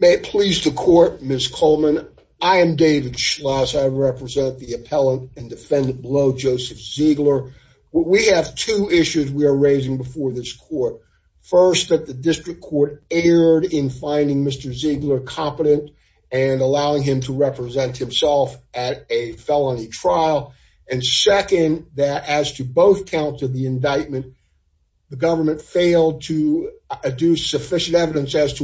May it please the court, Ms. Coleman. I am David Schloss. I represent the appellant and defendant below, Joseph Ziegler. We have two issues we are raising before this court. First, that the district court erred in finding Mr. Ziegler competent and allowing him to represent himself at a felony trial. And second, that as to both counts of the indictment, the government failed to attest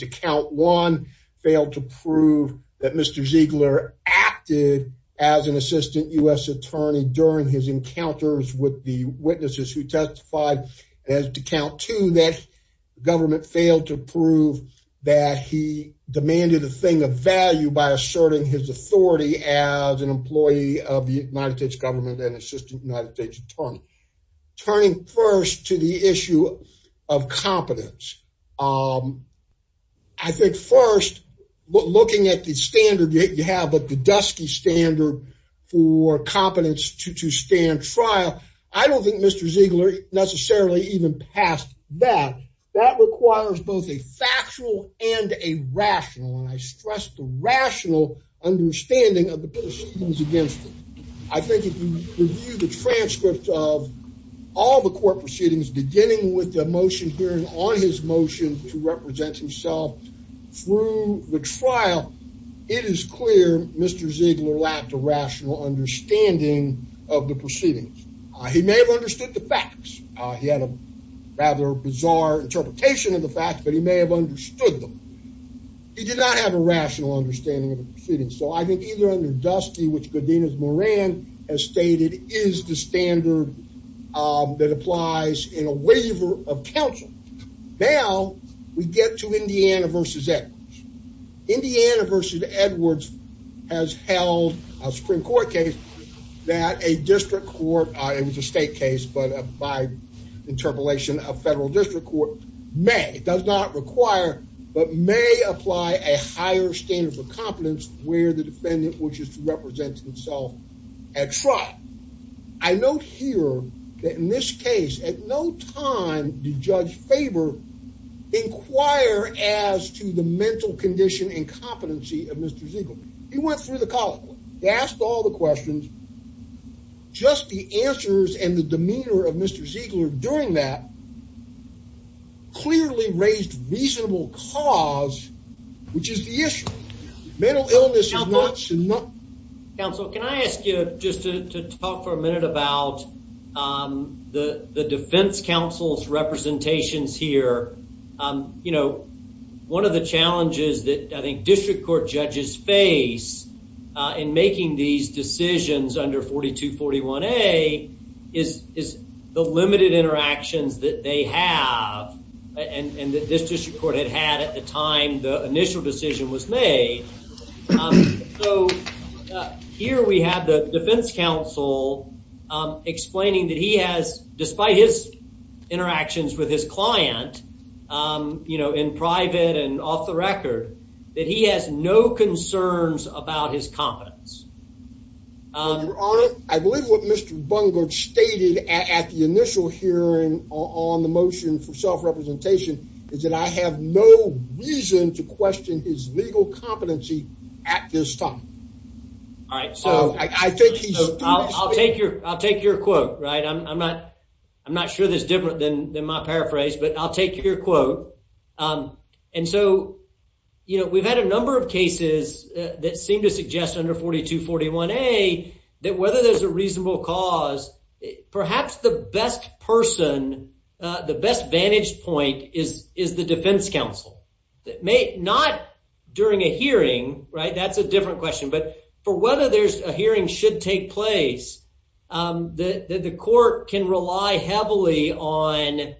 to count one, failed to prove that Mr. Ziegler acted as an assistant U.S. attorney during his encounters with the witnesses who testified. And as to count two, that government failed to prove that he demanded a thing of value by asserting his authority as an employee of the United States government and assistant United States attorney. Turning first to the issue of competence. I think first, looking at the standard you have, but the dusky standard for competence to stand trial, I don't think Mr. Ziegler necessarily even passed that. That requires both a factual and a rational, and I stress the rational understanding of the proceedings against him. I think if you review the transcript of all the court proceedings, beginning with the motion hearing on his motion to represent himself through the trial, it is clear Mr. Ziegler lacked a rational understanding of the proceedings. He may have understood the facts. He had a rather bizarre interpretation of the facts, but he may have understood them. He did not have a rational understanding of the proceedings. So I think either under dusky, which Godinez-Moran has stated is the standard that applies in a waiver of counsel. Now we get to Indiana versus Edwards. Indiana versus Edwards has held a Supreme Court case that a district court, it was a state case, but by interpolation, a federal district court may, does not require, but may apply a higher standard for competence where the defendant wishes to represent himself at trial. I note here that in this case, at no time did Judge Faber inquire as to the mental condition and competency of Mr. Ziegler. He went through the column. He asked all the questions. Just the answers and the demeanor of Mr. Ziegler during that clearly raised reasonable cause, which is the issue. Mental illness is not... Counsel, can I ask you just to talk for a minute about the defense counsel's representations here? You know, one of the challenges that I think district court judges face in making these and that this district court had had at the time the initial decision was made. So here we have the defense counsel explaining that he has, despite his interactions with his client, you know, in private and off the record, that he has no concerns about his competence. Your Honor, I believe what Mr. Bungard stated at the initial hearing on the motion for self-representation is that I have no reason to question his legal competency at this time. All right. I'll take your quote, right? I'm not sure that's different than my paraphrase, but I'll take your quote. And so, you know, we've had a number of cases that seem to suggest under 4241A that whether there's a reasonable cause, perhaps the best person, the best vantage point is the defense counsel. Not during a hearing, right? That's a different question. But for whether there's a hearing should take place, the court can rely heavily on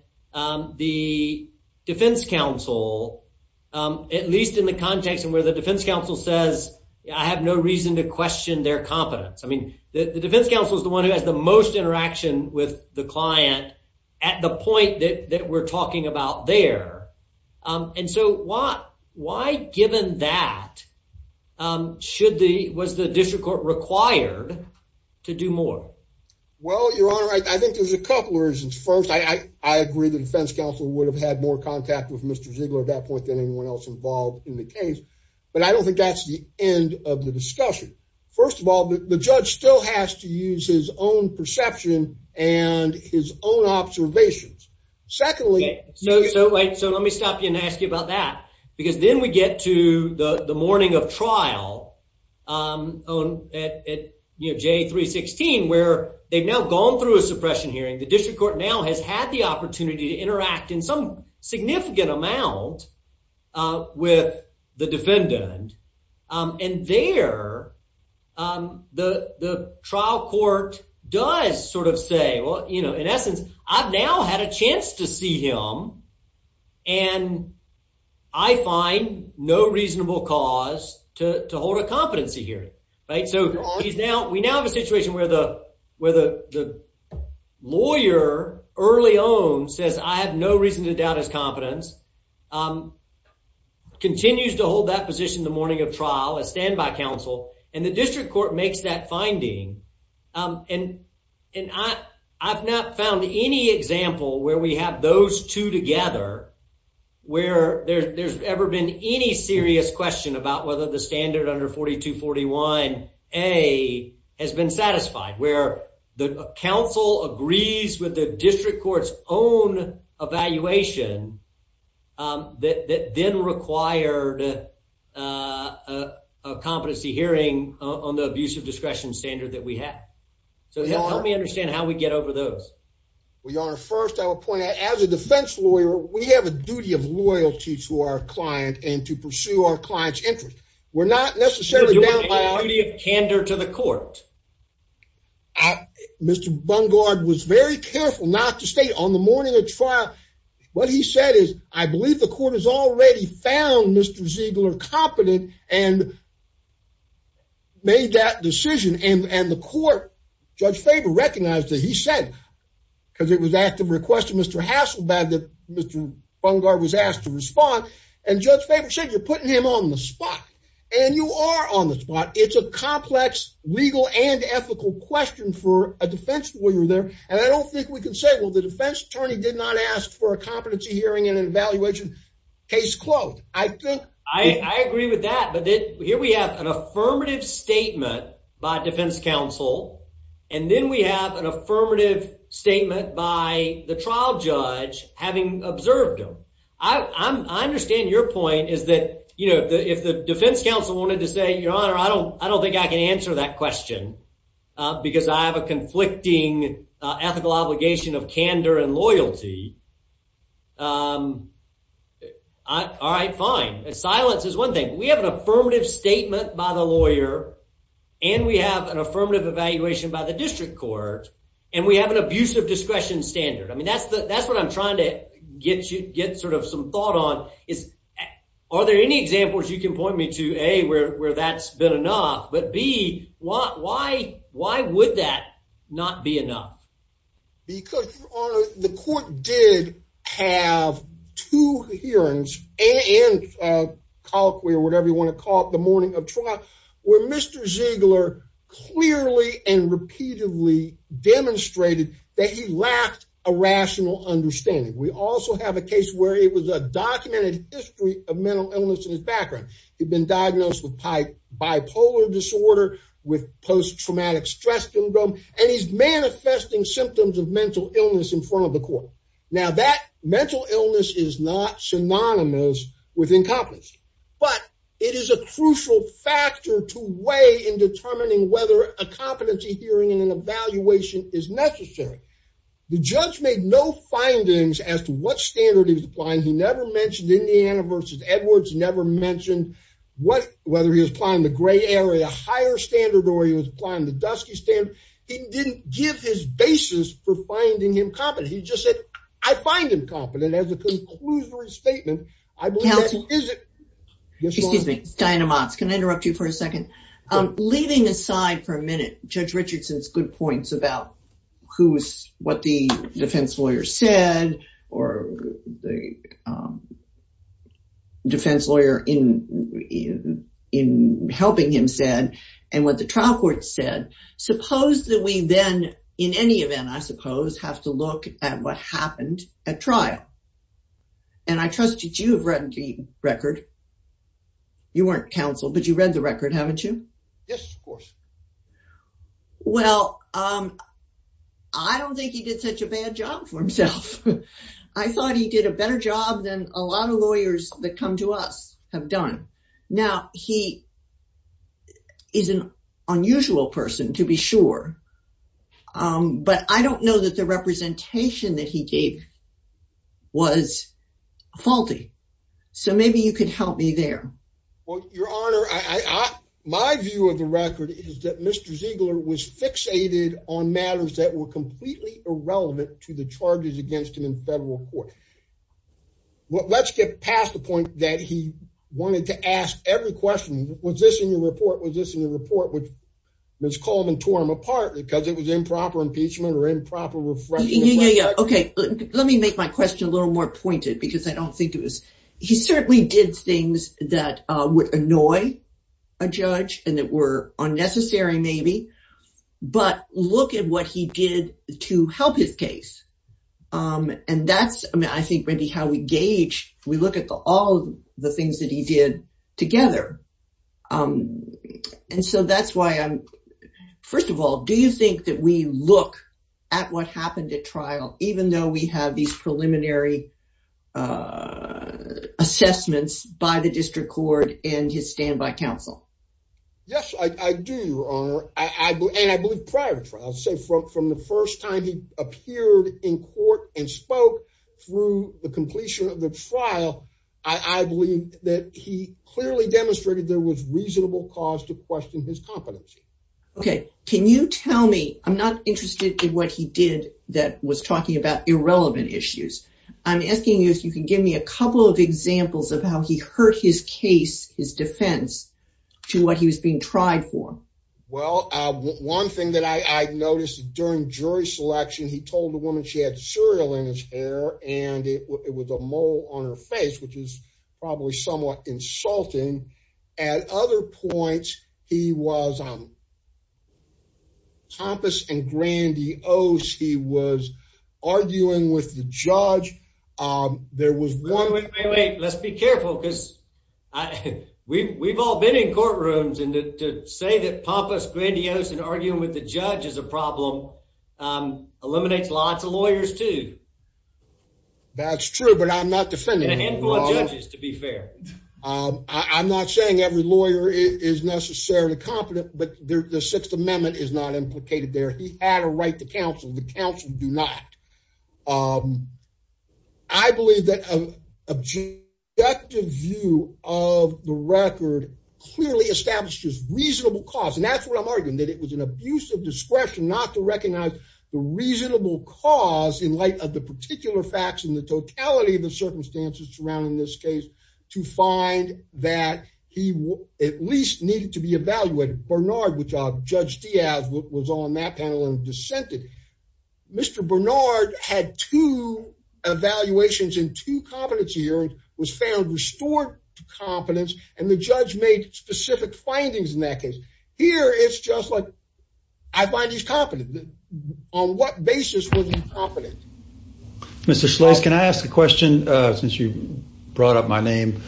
the defense counsel, at least in the context of where the defense counsel says, I have no reason to question their competence. I mean, the defense counsel is the one who has the most interaction with the client at the point that we're talking about there. And so why given that was the district court required to do more? Well, Your Honor, I think there's a couple reasons. First, I agree the defense counsel would have had more contact with Mr. Ziegler at that point than anyone else involved in the case. But I don't think that's the end of the discussion. First of all, the judge still has to use his own perception and his own observations. Secondly... So let me stop you and ask you about that. Because then we get to the morning of trial at J316, where they've now gone through a suppression hearing. The district court now has had the opportunity to interact in some significant amount with the defendant. And there, the trial court does sort of say, well, you know, in essence, I've now had a chance to see him. And I find no reasonable cause to hold a competency hearing. So we now have a situation where the lawyer early on says, I have no reason to doubt his competence, continues to hold that position the morning of trial, a standby counsel, and the district court makes that finding. And I've not found any example where we have those two together, where there's ever been any serious question about whether the standard under 4241A has been satisfied. Where the counsel agrees with the district court's own evaluation that then required a competency hearing on the abuse of discretion standard that we have. So help me understand how we get over those. Well, Your Honor, first I will point out, as a defense lawyer, we have a duty of loyalty to our client and to pursue our client's interest. We're not necessarily bound by our duty of candor to the court. Mr. Bungard was very careful not to state on the morning of trial. What he said is, I believe the court has already found Mr. Ziegler competent and made that decision. And the court, Judge Faber recognized that he said, because it was at the request of Mr. Hasselbad that Mr. Bungard was asked to respond. And Judge Faber said, you're putting him on the spot. And you are on the spot. It's a complex legal and ethical question for a defense lawyer there. And I don't think we can say, well, the defense attorney did not ask for a competency hearing and an evaluation. Case closed. I think. I agree with that. But here we have an affirmative statement by defense counsel. And then we have an affirmative statement by the trial judge having observed him. I understand your point is that, you know, if the defense counsel wanted to say, Your Honor, I don't think I can answer that question because I have a conflicting ethical obligation of candor and loyalty. All right, fine. Silence is one thing. We have an affirmative statement by the lawyer. And we have an affirmative evaluation by the district court. And we have an abusive discretion standard. I mean, that's what I'm trying to get you get sort of some thought on Are there any examples you can point me to, A, where that's been enough? But B, why would that not be enough? Because, Your Honor, the court did have two hearings and colloquy or whatever you want to call it, the morning of trial, where Mr. Ziegler clearly and repeatedly demonstrated that he lacked a rational understanding. We also have a case where it was a documented history of mental illness in his background. He'd been diagnosed with bipolar disorder, with post-traumatic stress syndrome, and he's manifesting symptoms of mental illness in front of the court. Now, that mental illness is not synonymous with incompetence, but it is a crucial factor to weigh in determining whether a competency hearing and an evaluation is necessary. The judge made no findings as to what standard he was applying. He never mentioned Indiana versus Edwards, never mentioned whether he was applying the gray area, higher standard, or he was applying the dusky standard. He didn't give his basis for finding him competent. He just said, I find him competent as a conclusory statement. I believe that he isn't. Counsel, excuse me. Diana Motz, can I interrupt you for a second? Leaving aside for a minute, Judge Richardson's good points about what the defense lawyer said or the defense lawyer in helping him said and what the trial court said, suppose that we then, in any event, I suppose, have to look at what happened at trial. I trust that you have read the record. You weren't counsel, but you read the record, haven't you? Yes, of course. Well, I don't think he did such a bad job for himself. I thought he did a better job than a lot of lawyers that come to us have done. Now, he is an unusual person, to be sure, but I don't know that the representation that he gave was faulty, so maybe you could help me there. Well, Your Honor, my view of the record is that Mr. Ziegler was fixated on matters that were completely irrelevant to the charges against him in federal court. Let's get past the point that he wanted to ask every question, was this in your report, was this in your report, which Ms. Coleman tore him apart because it was my question a little more pointed because I don't think it was. He certainly did things that would annoy a judge and that were unnecessary, maybe, but look at what he did to help his case. And that's, I mean, I think maybe how we gauge, we look at all the things that he did together. And so that's why I'm, first of all, do you think that we look at what happened at trial, even though we have these preliminary assessments by the district court and his standby counsel? Yes, I do, Your Honor, and I believe prior to trial. I'll say from the first time he appeared in court and spoke through the completion of the trial, I believe that he clearly demonstrated there was reasonable cause to question his competency. Okay, can you tell me, I'm not about irrelevant issues. I'm asking you if you can give me a couple of examples of how he hurt his case, his defense, to what he was being tried for. Well, one thing that I noticed during jury selection, he told the woman she had cereal in his hair and it was a mole on her face, which is arguing with the judge. Wait, wait, wait, let's be careful because we've all been in courtrooms and to say that pompous, grandiose and arguing with the judge is a problem eliminates lots of lawyers too. That's true, but I'm not defending him. And a handful of judges, to be fair. I'm not saying every lawyer is necessarily competent, but the Sixth Amendment is not the counsel. The counsel do not. I believe that an objective view of the record clearly established his reasonable cause. And that's what I'm arguing, that it was an abuse of discretion not to recognize the reasonable cause in light of the particular facts and the totality of the circumstances surrounding this case to find that he at least needed to be evaluated. Bernard, Judge Diaz was on that panel and dissented. Mr. Bernard had two evaluations in two competency hearings, was found restored to competence, and the judge made specific findings in that case. Here, it's just like, I find he's competent. On what basis was he competent? Mr. Schloss, can I ask a question since you brought up my name?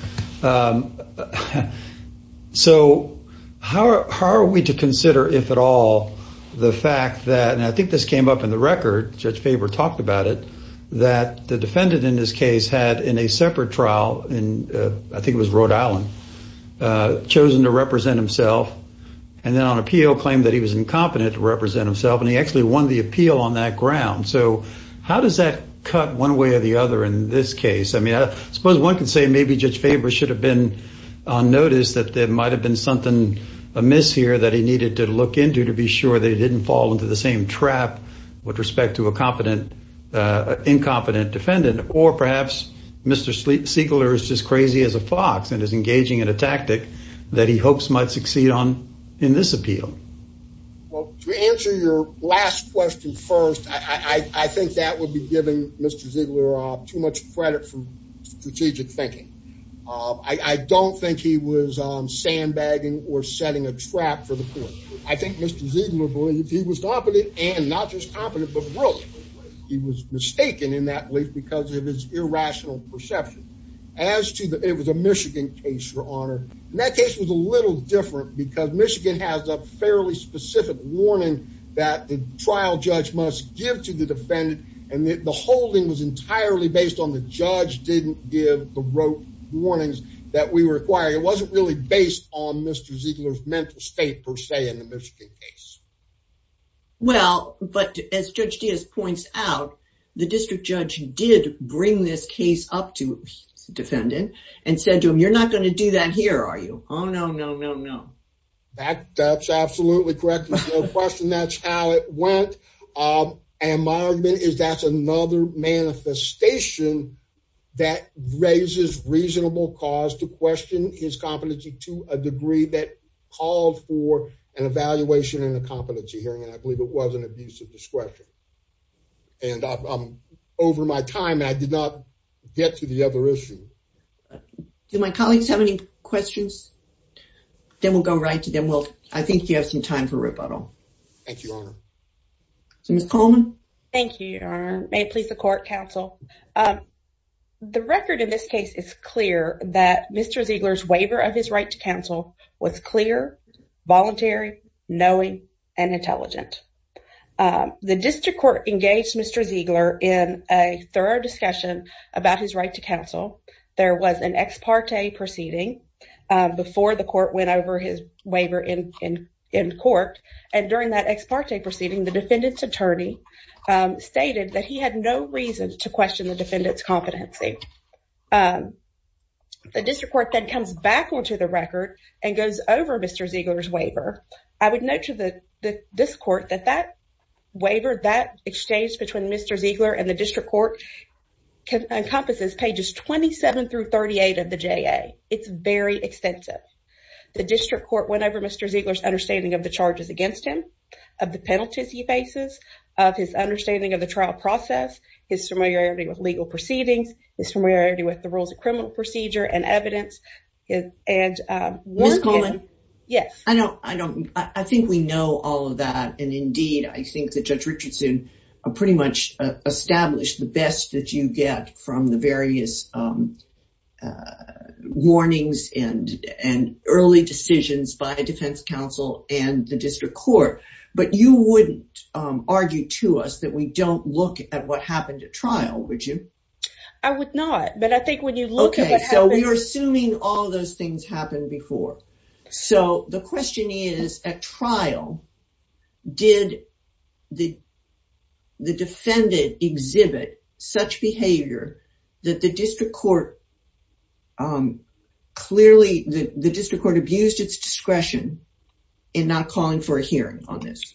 So how are we to consider, if at all, the fact that, and I think this came up in the record, Judge Faber talked about it, that the defendant in this case had in a separate trial in, I think it was Rhode Island, chosen to represent himself and then on appeal claimed that he was on that ground. So how does that cut one way or the other in this case? I mean, I suppose one can say maybe Judge Faber should have been on notice that there might've been something amiss here that he needed to look into to be sure they didn't fall into the same trap with respect to a competent, incompetent defendant, or perhaps Mr. Siegler is just crazy as a fox and is engaging in a tactic that he hopes might succeed on in this appeal. Well, to answer your last question first, I think that would be giving Mr. Siegler too much credit from strategic thinking. I don't think he was sandbagging or setting a trap for the court. I think Mr. Siegler believed he was competent and not just competent, but brilliant. He was mistaken in that belief because of his irrational perception. As to the, it was a Michigan case, and that case was a little different because Michigan has a fairly specific warning that the trial judge must give to the defendant. And the holding was entirely based on the judge didn't give the rote warnings that we require. It wasn't really based on Mr. Siegler's mental state per se in the Michigan case. Well, but as Judge Diaz points out, the district judge did bring this up to the defendant and said to him, you're not going to do that here, are you? Oh, no, no, no, no. That's absolutely correct. There's no question that's how it went. And my argument is that's another manifestation that raises reasonable cause to question his competency to a degree that called for an evaluation and a competency hearing. And I believe it was an abuse of discretion. And over my time, I did not get to the other issue. Do my colleagues have any questions? Then we'll go right to them. Well, I think you have some time for rebuttal. Thank you, Your Honor. So, Ms. Coleman. Thank you, Your Honor. May it please the court, counsel. The record in this case is clear that Mr. Siegler's waiver of his right to counsel was clear, voluntary, knowing, and intelligent. The district court engaged Mr. Siegler in a thorough discussion about his right to counsel. There was an ex parte proceeding before the court went over his waiver in court. And during that ex parte proceeding, the defendant's attorney stated that he had no reason to question the defendant's competency. Thank you. The district court then comes back onto the record and goes over Mr. Siegler's waiver. I would note to this court that that waiver, that exchange between Mr. Siegler and the district court encompasses pages 27 through 38 of the JA. It's very extensive. The district court went over Mr. Siegler's understanding of the charges against him, of the penalties he faces, of his understanding of the trial process, his familiarity with legal proceedings, his familiarity with the rules of criminal procedure and evidence. Ms. Coleman? Yes. I think we know all of that. And indeed, I think that Judge Richardson pretty much established the best that you get from the various warnings and early decisions by defense counsel and the district court. But you wouldn't argue to us that we don't look at what happened at trial, would you? I would not. But I think when you look at what happened... Okay, so we were assuming all those things happened before. So the question is, at trial, did the defendant exhibit such behavior that the district court, clearly, the district court abused its discretion in not calling for a hearing on this?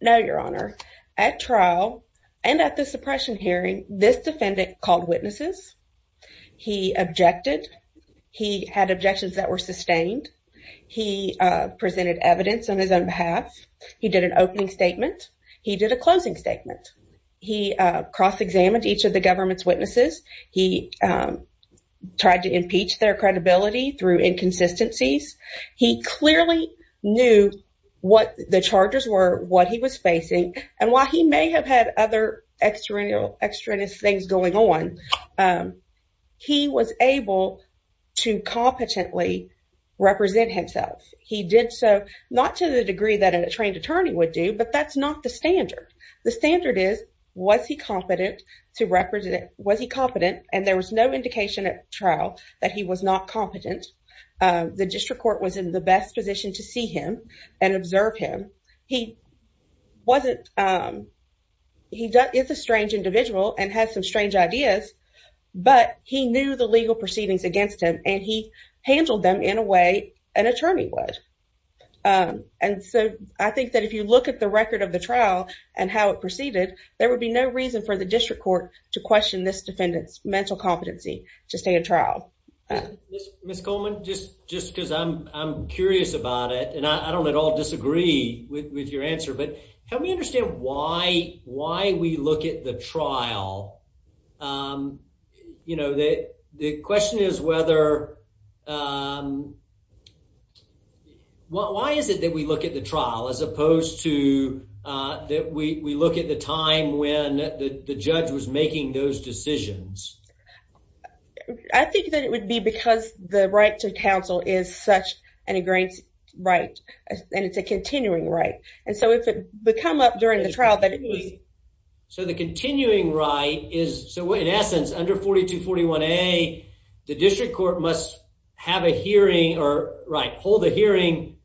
No, Your Honor. At trial and at the suppression hearing, this defendant called witnesses. He objected. He had objections that were sustained. He presented evidence on his own behalf. He did an opening statement. He did a closing statement. He cross-examined each of the government's witnesses. He tried to impeach their credibility through inconsistencies. He clearly knew what the charges were, what he was facing. And while he may have had other extraneous things going on, he was able to competently represent himself. He did so, not to the degree that a trained attorney would do, but that's not the standard. The standard is, was he competent to represent? Was he competent? And there was no indication at trial that he was not competent. The district court was in the best position to see him and observe him. He wasn't, he is a strange individual and has some strange ideas, but he knew the legal proceedings against him and he handled them in a way an attorney would. And so, I think that if you look at the record of the trial and how it proceeded, there would be no reason for the Ms. Coleman, just because I'm curious about it and I don't at all disagree with your answer, but help me understand why we look at the trial. You know, the question is whether, why is it that we look at the trial as opposed to that we look at the time when the judge was making those decisions? I think that it would be because the right to counsel is such an ingrained right and it's a continuing right. And so, if it would come up during the trial that it was. So, the continuing right is, so in essence, under 4241A, the district court must have a hearing or, right, hold a hearing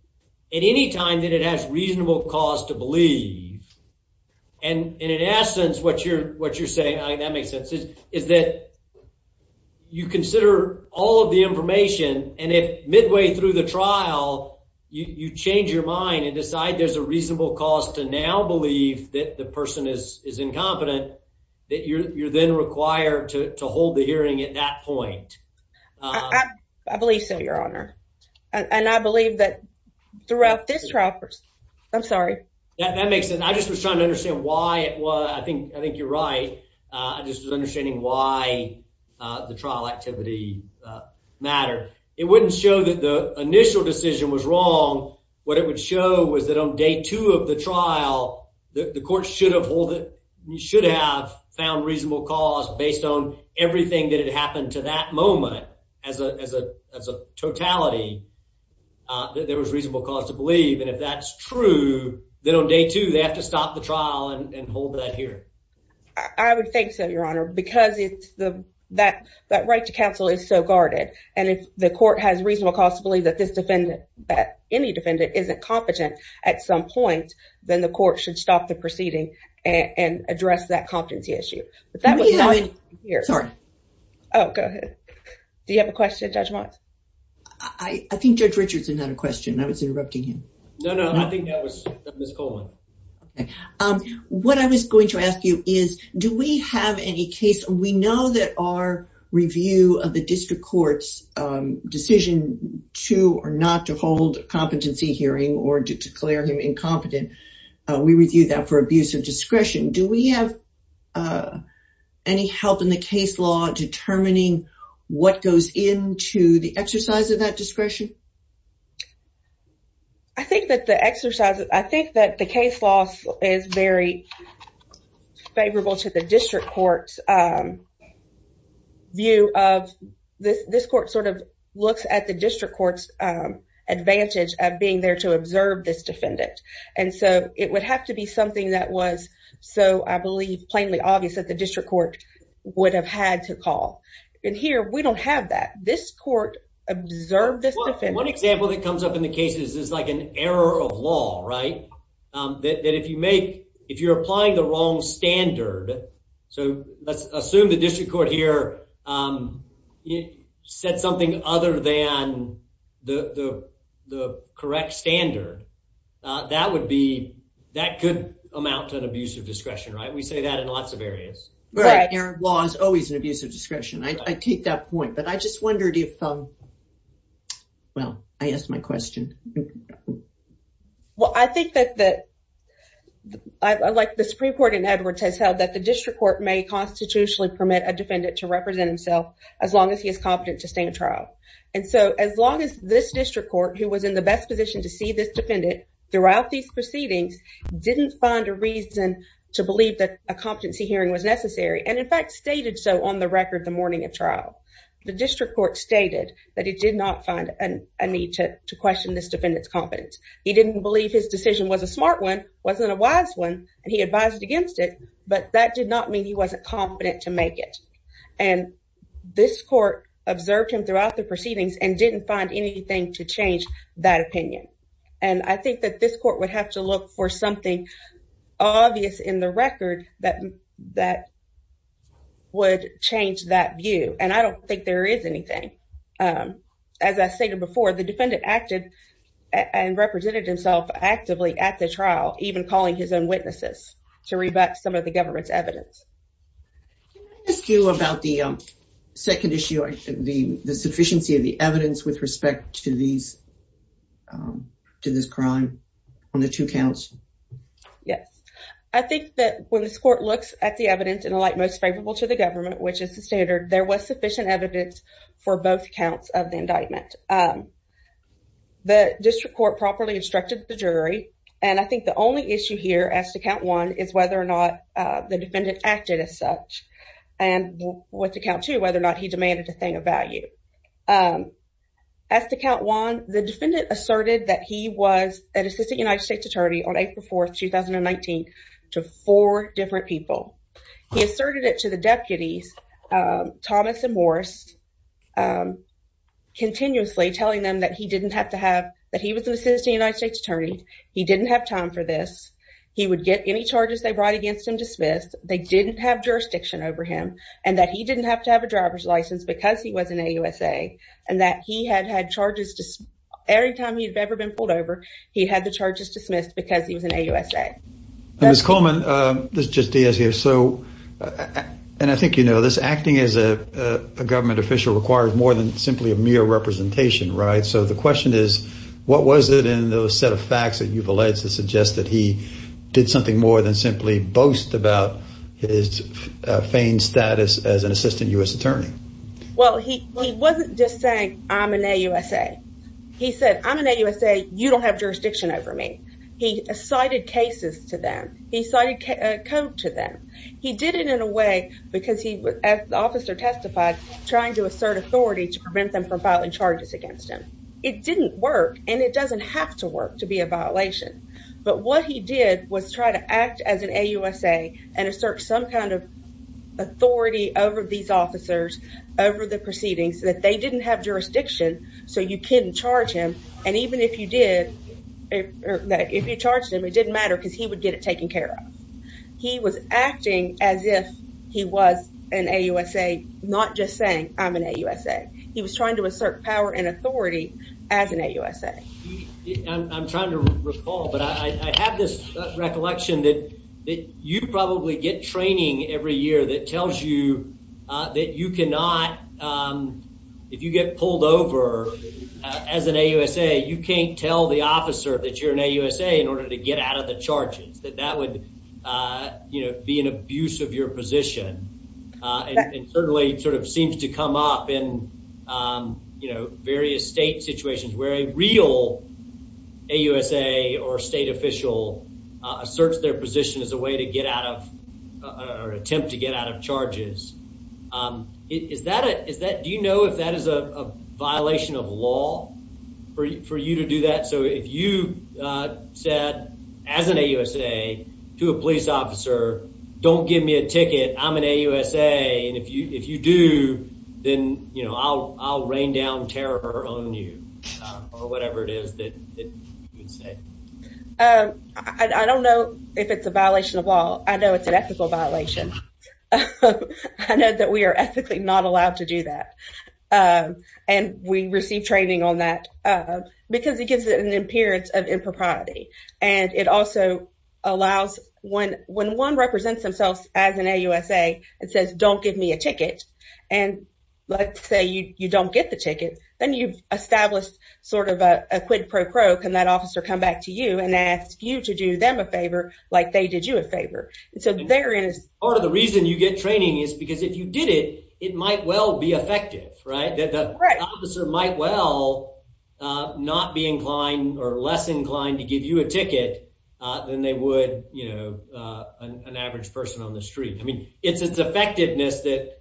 at any time that it has reasonable cause to believe. And in essence, what you're saying, that makes sense, is that you consider all of the information and if midway through the trial, you change your mind and decide there's a reasonable cause to now believe that the person is incompetent, that you're then required to hold the hearing at that point. I believe so, your honor. And I believe that throughout this trial, I'm sorry. That makes sense. I just was trying to understand why it was, I think you're right. I just was understanding why the trial activity mattered. It wouldn't show that the initial decision was wrong. What it would show was that on day two of the trial, the court should have found reasonable cause based on everything that had happened to that moment as a totality, that there was reasonable cause to believe. And if that's true, then on day two, they have to stop the trial and hold that hearing. I would think so, your honor, because that right to counsel is so guarded. And if the court has reasonable cause to believe that this defendant, that any defendant, isn't competent at some point, then the court should stop the proceeding and address that competency issue. Sorry. Oh, go ahead. Do you have a question, Judge Watts? I think Judge Richards had a question. I was interrupting him. No, no. I think that was Ms. Coleman. What I was going to ask you is, do we have any case, we know that our review of the district court's decision to or not to hold competency hearing or to declare him incompetent, we review that for abuse of discretion. Do we have any help in the case law determining what goes into the exercise of that discretion? I think that the exercise, I think that the case law is very favorable to the district court's view of, this court sort of looks at the district court's advantage of being there to observe this defendant. And so it would have to be something that was so, I believe, plainly obvious that district court would have had to call. And here, we don't have that. This court observed this defendant. One example that comes up in the cases is like an error of law, right? That if you make, if you're applying the wrong standard, so let's assume the district court here said something other than the correct standard, that would be, that could amount to an abuse of discretion. Error of law is always an abuse of discretion. I take that point, but I just wondered if, well, I asked my question. Well, I think that, like the Supreme Court in Edwards has held that the district court may constitutionally permit a defendant to represent himself as long as he is competent to stand trial. And so as long as this district court, who was in the best position to see this defendant throughout these proceedings, didn't find a reason to believe that a competency hearing was necessary, and in fact stated so on the record the morning of trial, the district court stated that he did not find a need to question this defendant's competence. He didn't believe his decision was a smart one, wasn't a wise one, and he advised against it, but that did not mean he wasn't competent to make it. And this court observed him throughout the proceedings and didn't find anything to change that opinion. And I think that this court would have to look for something obvious in the record that would change that view, and I don't think there is anything. As I stated before, the defendant acted and represented himself actively at the trial, even calling his own witnesses to rebut some of the government's evidence. Can I ask you about the second issue, the sufficiency of the evidence with respect to these, to this crime on the two counts? Yes, I think that when this court looks at the evidence in the light most favorable to the government, which is the standard, there was sufficient evidence for both counts of the indictment. The district court properly instructed the jury, and I think the only issue here as to count one is whether or not the defendant acted as such, and with the one, the defendant asserted that he was an assistant United States attorney on April 4th, 2019, to four different people. He asserted it to the deputies, Thomas and Morris, continuously telling them that he didn't have to have, that he was an assistant United States attorney, he didn't have time for this, he would get any charges they brought against him dismissed, they didn't have jurisdiction over him, and that he didn't have to have a driver's license because he was an AUSA, and that he had had charges, every time he had ever been pulled over, he had the charges dismissed because he was an AUSA. Ms. Coleman, this is just Diaz here, so, and I think you know this, acting as a government official requires more than simply a mere representation, right? So the question is, what was it in the set of facts that you've alleged to suggest that he did something more than simply boast about his feigned status as assistant U.S. attorney? Well, he wasn't just saying, I'm an AUSA, he said, I'm an AUSA, you don't have jurisdiction over me. He cited cases to them, he cited a code to them, he did it in a way, because he was, as the officer testified, trying to assert authority to prevent them from filing charges against him. It didn't work, and it doesn't have to work to be a violation, but what he did was try to act as an AUSA and assert some kind of authority over these officers, over the proceedings, that they didn't have jurisdiction, so you couldn't charge him, and even if you did, or if you charged him, it didn't matter because he would get it taken care of. He was acting as if he was an AUSA, not just saying, I'm an AUSA. He was trying to assert power and authority as an AUSA. I'm trying to recall, but I have this recollection that you probably get training every year that tells you that you cannot, if you get pulled over as an AUSA, you can't tell the officer that you're an AUSA in order to get out of the charges, that that would be an abuse of your position, and certainly sort of seems to come up in various state situations where a real AUSA or state official asserts their position as a way to get out of, or attempt to get out of charges. Do you know if that is a violation of law for you to do that? So if you said, as an AUSA, to a police officer, don't give me a ticket, I'm an AUSA, and if you do, then I'll rain down terror on you, or whatever it is that you would say. I don't know if it's a violation of law. I know it's an ethical violation. I know that we are ethically not allowed to do that, and we receive training on that because it gives it an appearance of impropriety, and it also allows, when one represents themselves as an AUSA and says, don't give me a ticket, and let's say you don't get the ticket, then you've established sort of a quid pro pro, can that officer come back to you and ask you to do them a favor like they did you a favor, and so there is. Part of the reason you get training is because if you did it, it might well be effective, right? The officer might well not be inclined or less inclined to give you a ticket than they would, you know, an average person on the street. I mean, it's its effectiveness that,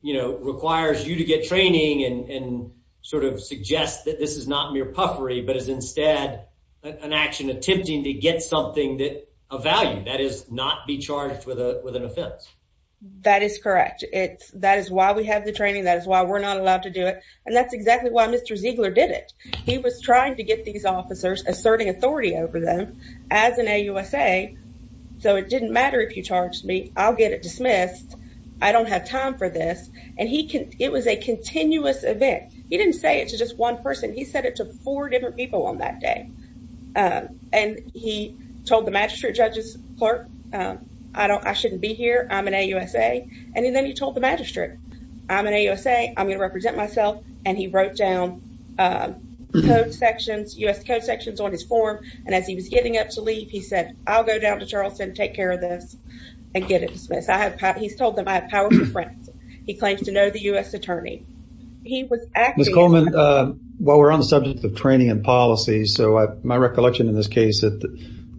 you know, requires you to get training and sort of suggest that this is not mere puffery, but is instead an action attempting to get something of value, that is, not be charged with an offense. That is correct. That is why we have the training. That is why we're not allowed to do it, and that's exactly why Mr. Ziegler did it. He was trying to get these officers asserting authority over them as an AUSA, so it didn't matter if you charged me. I'll get it dismissed. I don't have time for this, and it was a continuous event. He didn't say it to just one person. He said it to four different people on that day, and he told the magistrate clerk, I shouldn't be here, I'm an AUSA, and then he told the magistrate, I'm an AUSA, I'm going to represent myself, and he wrote down code sections, U.S. code sections on his form, and as he was getting up to leave, he said, I'll go down to Charleston, take care of this, and get it dismissed. He's told them I have powerful friends. He claims to know the U.S. attorney. He was acting. Ms. Coleman, while we're on the subject of training and policy, my recollection in this case is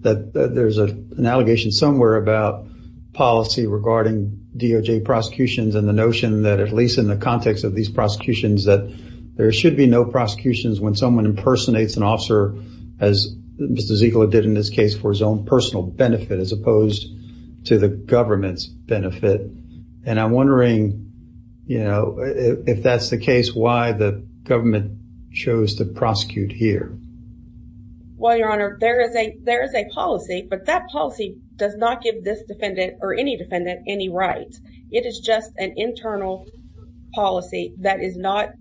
that there's an allegation somewhere about policy regarding DOJ prosecutions and the notion that, at least in the context of these prosecutions, that there should be no prosecutions when someone impersonates an officer, as Mr. Ziegler did in this case, for his own personal benefit as opposed to the government's benefit, and I'm wondering if that's the case, why the government chose to prosecute here. Well, Your Honor, there is a policy, but that policy does not give this defendant or any defendant any rights. It is just an internal policy that is not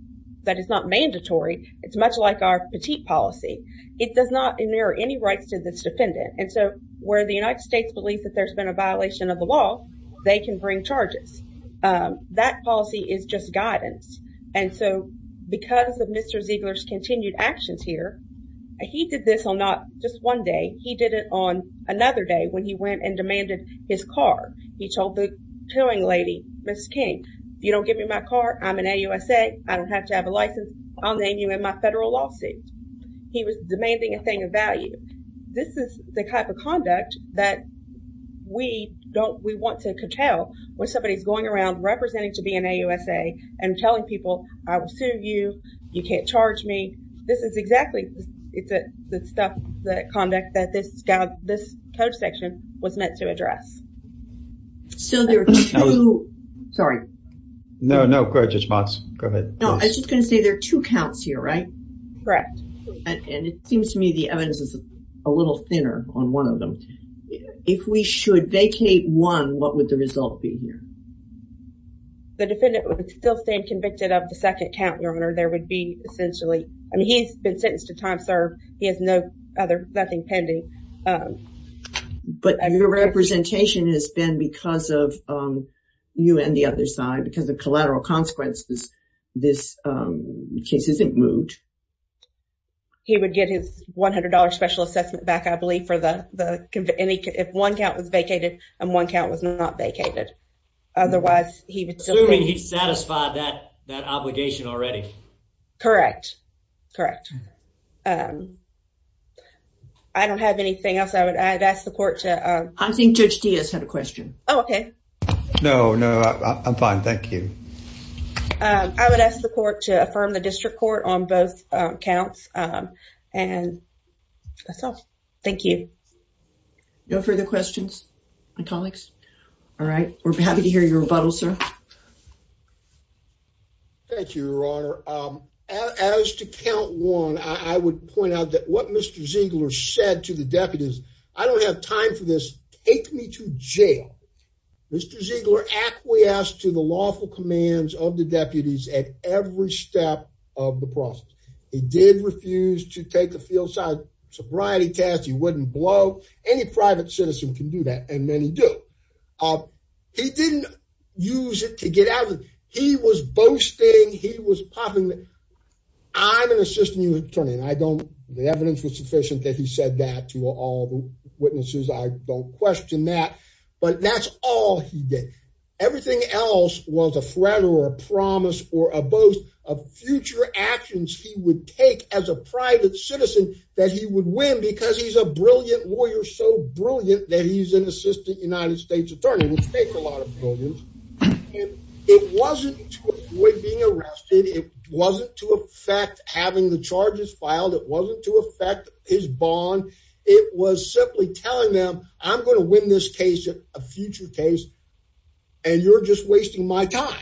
mandatory. It's much like our petite policy. It does not mirror any rights to this defendant, and so where the United States believes that there's been a violation of the law, they can bring charges. That policy is just guidance, and so because of Mr. Ziegler's continued actions here, he did this on not just one day. He did it on another day when he went and demanded his car. He told the towing lady, Ms. King, if you don't give me my car, I'm an AUSA. I don't have to have a license. I'll name you in my We don't, we want to curtail when somebody's going around representing to be an AUSA and telling people, I will sue you. You can't charge me. This is exactly, it's the stuff, the conduct that this code section was meant to address. So there are two, sorry. No, no, correct response. Go ahead. No, I was just going to say there are two counts here, right? Correct. And it seems to me the evidence is a little thinner on one of them. If we should vacate one, what would the result be here? The defendant would still stand convicted of the second count, Your Honor. There would be essentially, I mean, he's been sentenced to time served. He has no other, nothing pending. But your representation has been because of you and the other side, because of collateral consequences, this case isn't moved. He would get his $100 special assessment back, I believe, for the, if one count was vacated and one count was not vacated. Otherwise, he would still be- Assuming he's satisfied that obligation already. Correct. Correct. I don't have anything else I would, I'd ask the court to- I think Judge Diaz had a question. Oh, okay. No, no, I'm fine. Thank you. I would ask the court to affirm the district court on both counts. And that's all. Thank you. No further questions, my colleagues? All right. We're happy to hear your rebuttal, sir. Thank you, Your Honor. As to count one, I would point out that what Mr. Ziegler said to the deputies, I don't have time for this. Take me to jail. Mr. Ziegler acquiesced to the lawful to take a fieldside sobriety test. He wouldn't blow. Any private citizen can do that, and many do. He didn't use it to get out. He was boasting. He was popping. I'm an assistant attorney, and I don't, the evidence was sufficient that he said that to all the witnesses. I don't question that, but that's all he did. Everything else was a threat or a promise or a boast of future actions he would take as a private citizen that he would win because he's a brilliant lawyer, so brilliant that he's an assistant United States attorney, which takes a lot of brilliance. It wasn't to avoid being arrested. It wasn't to affect having the charges filed. It wasn't to affect his bond. It was simply telling them, I'm going to win this case, a future case, and you're just wasting my time.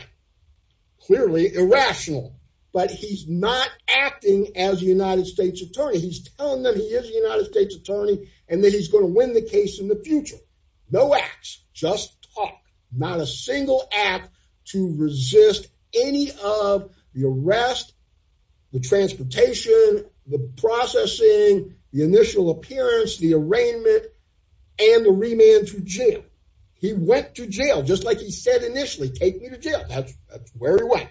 Clearly irrational, but he's not acting as a United States attorney. He's telling them he is a United States attorney and that he's going to win the case in the future. No acts, just talk. Not a single act to resist any of the arrest, the transportation, the processing, the initial appearance, the arraignment, and the remand to jail. He went to jail, just like he said initially, take me to jail. That's where he went.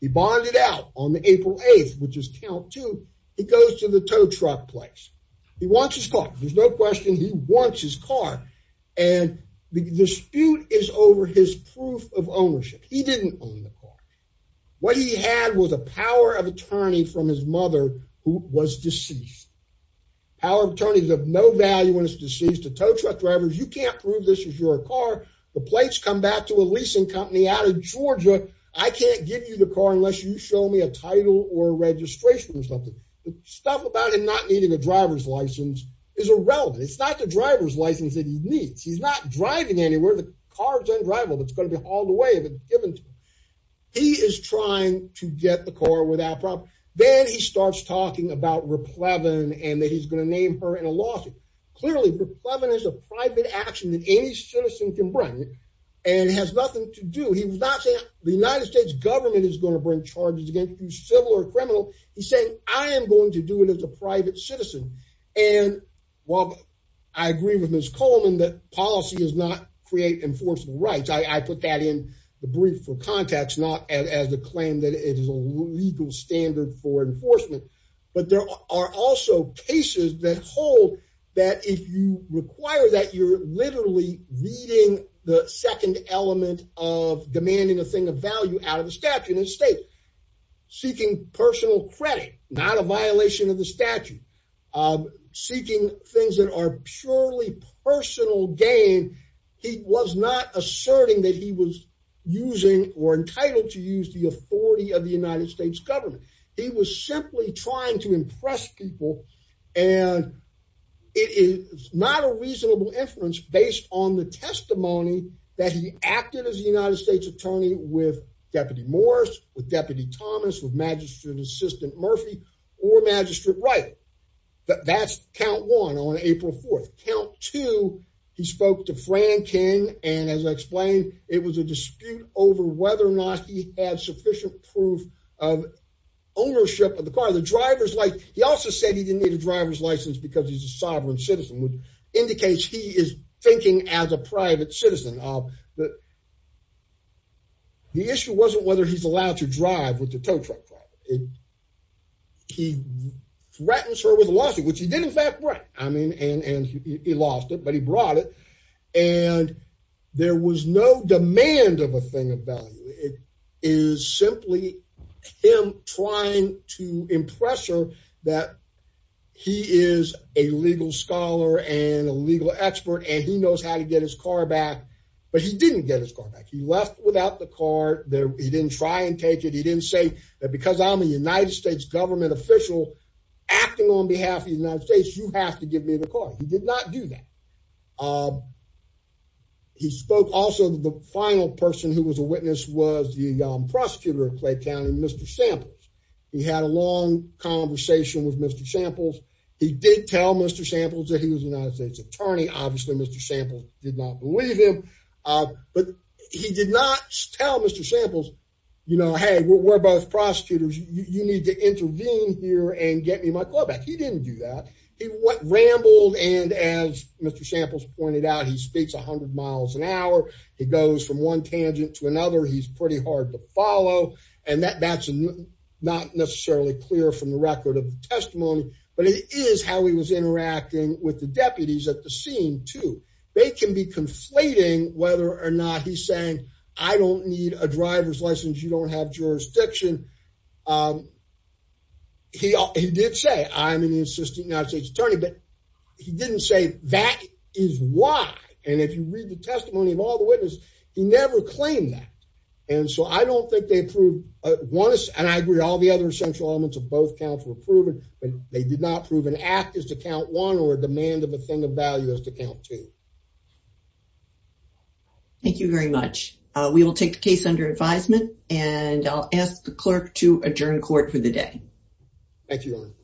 He bonded out on April 8th, which is count two. He goes to the tow truck place. He wants his car. There's no question he wants his car, and the dispute is over his proof of ownership. He didn't own the car. What he had was a power of attorney from his mother who was deceased, a tow truck driver. You can't prove this is your car. The plates come back to a leasing company out of Georgia. I can't give you the car unless you show me a title or registration or something. Stuff about him not needing a driver's license is irrelevant. It's not the driver's license that he needs. He's not driving anywhere. The car's undrivable. It's going to be hauled away if it's given to him. He is trying to get the car without problem. Then he starts talking about Raplevin and that he's going to name her in a lawsuit. Clearly, Raplevin is a private action that any citizen can bring and has nothing to do. He's not saying the United States government is going to bring charges against you, civil or criminal. He's saying, I am going to do it as a private citizen. I agree with Ms. Coleman that policy does not create enforceable rights. I There are also cases that hold that if you require that, you're literally reading the second element of demanding a thing of value out of the statute and state. Seeking personal credit, not a violation of the statute. Seeking things that are purely personal gain. He was not asserting that he was using or entitled to use the authority of the United States government. He was simply trying to impress people. It is not a reasonable inference based on the testimony that he acted as a United States attorney with Deputy Morris, with Deputy Thomas, with Magistrate Assistant Murphy, or Magistrate Wright. That's count one on April 4th. Count two, he spoke to ownership of the car, the driver's license. He also said he didn't need a driver's license because he's a sovereign citizen, which indicates he is thinking as a private citizen. The issue wasn't whether he's allowed to drive with the tow truck driver. He threatens her with a lawsuit, which he did in fact write. He lost it, but he brought it. And there was no demand of a thing of value. It is simply him trying to impress her that he is a legal scholar and a legal expert, and he knows how to get his car back, but he didn't get his car back. He left without the car. He didn't try and take it. He didn't say that because I'm a United States government official acting on behalf of the United States, you have to give me the car. He did not do that. He spoke also, the final person who was a witness was the prosecutor of Clay County, Mr. Samples. He had a long conversation with Mr. Samples. He did tell Mr. Samples that he was a United States attorney. Obviously, Mr. Samples did not believe him, but he did not tell Mr. Samples, you know, hey, we're both prosecutors. You need to ramble. And as Mr. Samples pointed out, he speaks a hundred miles an hour. He goes from one tangent to another. He's pretty hard to follow. And that's not necessarily clear from the record of testimony, but it is how he was interacting with the deputies at the scene too. They can be conflating whether or not he's saying, I don't need a driver's license. You don't have jurisdiction. He did say I'm an assistant United States attorney, but he didn't say that is why. And if you read the testimony of all the witnesses, he never claimed that. And so I don't think they approved one, and I agree with all the other central elements of both counts were proven, but they did not prove an act is to count one or a demand of a thing of value as to count two. Thank you very much. We will take the case under advisement and I'll ask the clerk to adjourn court for the day. Thank you.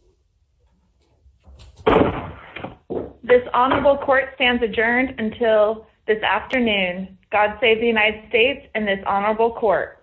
This honorable court stands adjourned until this afternoon. God save the United States and this honorable court.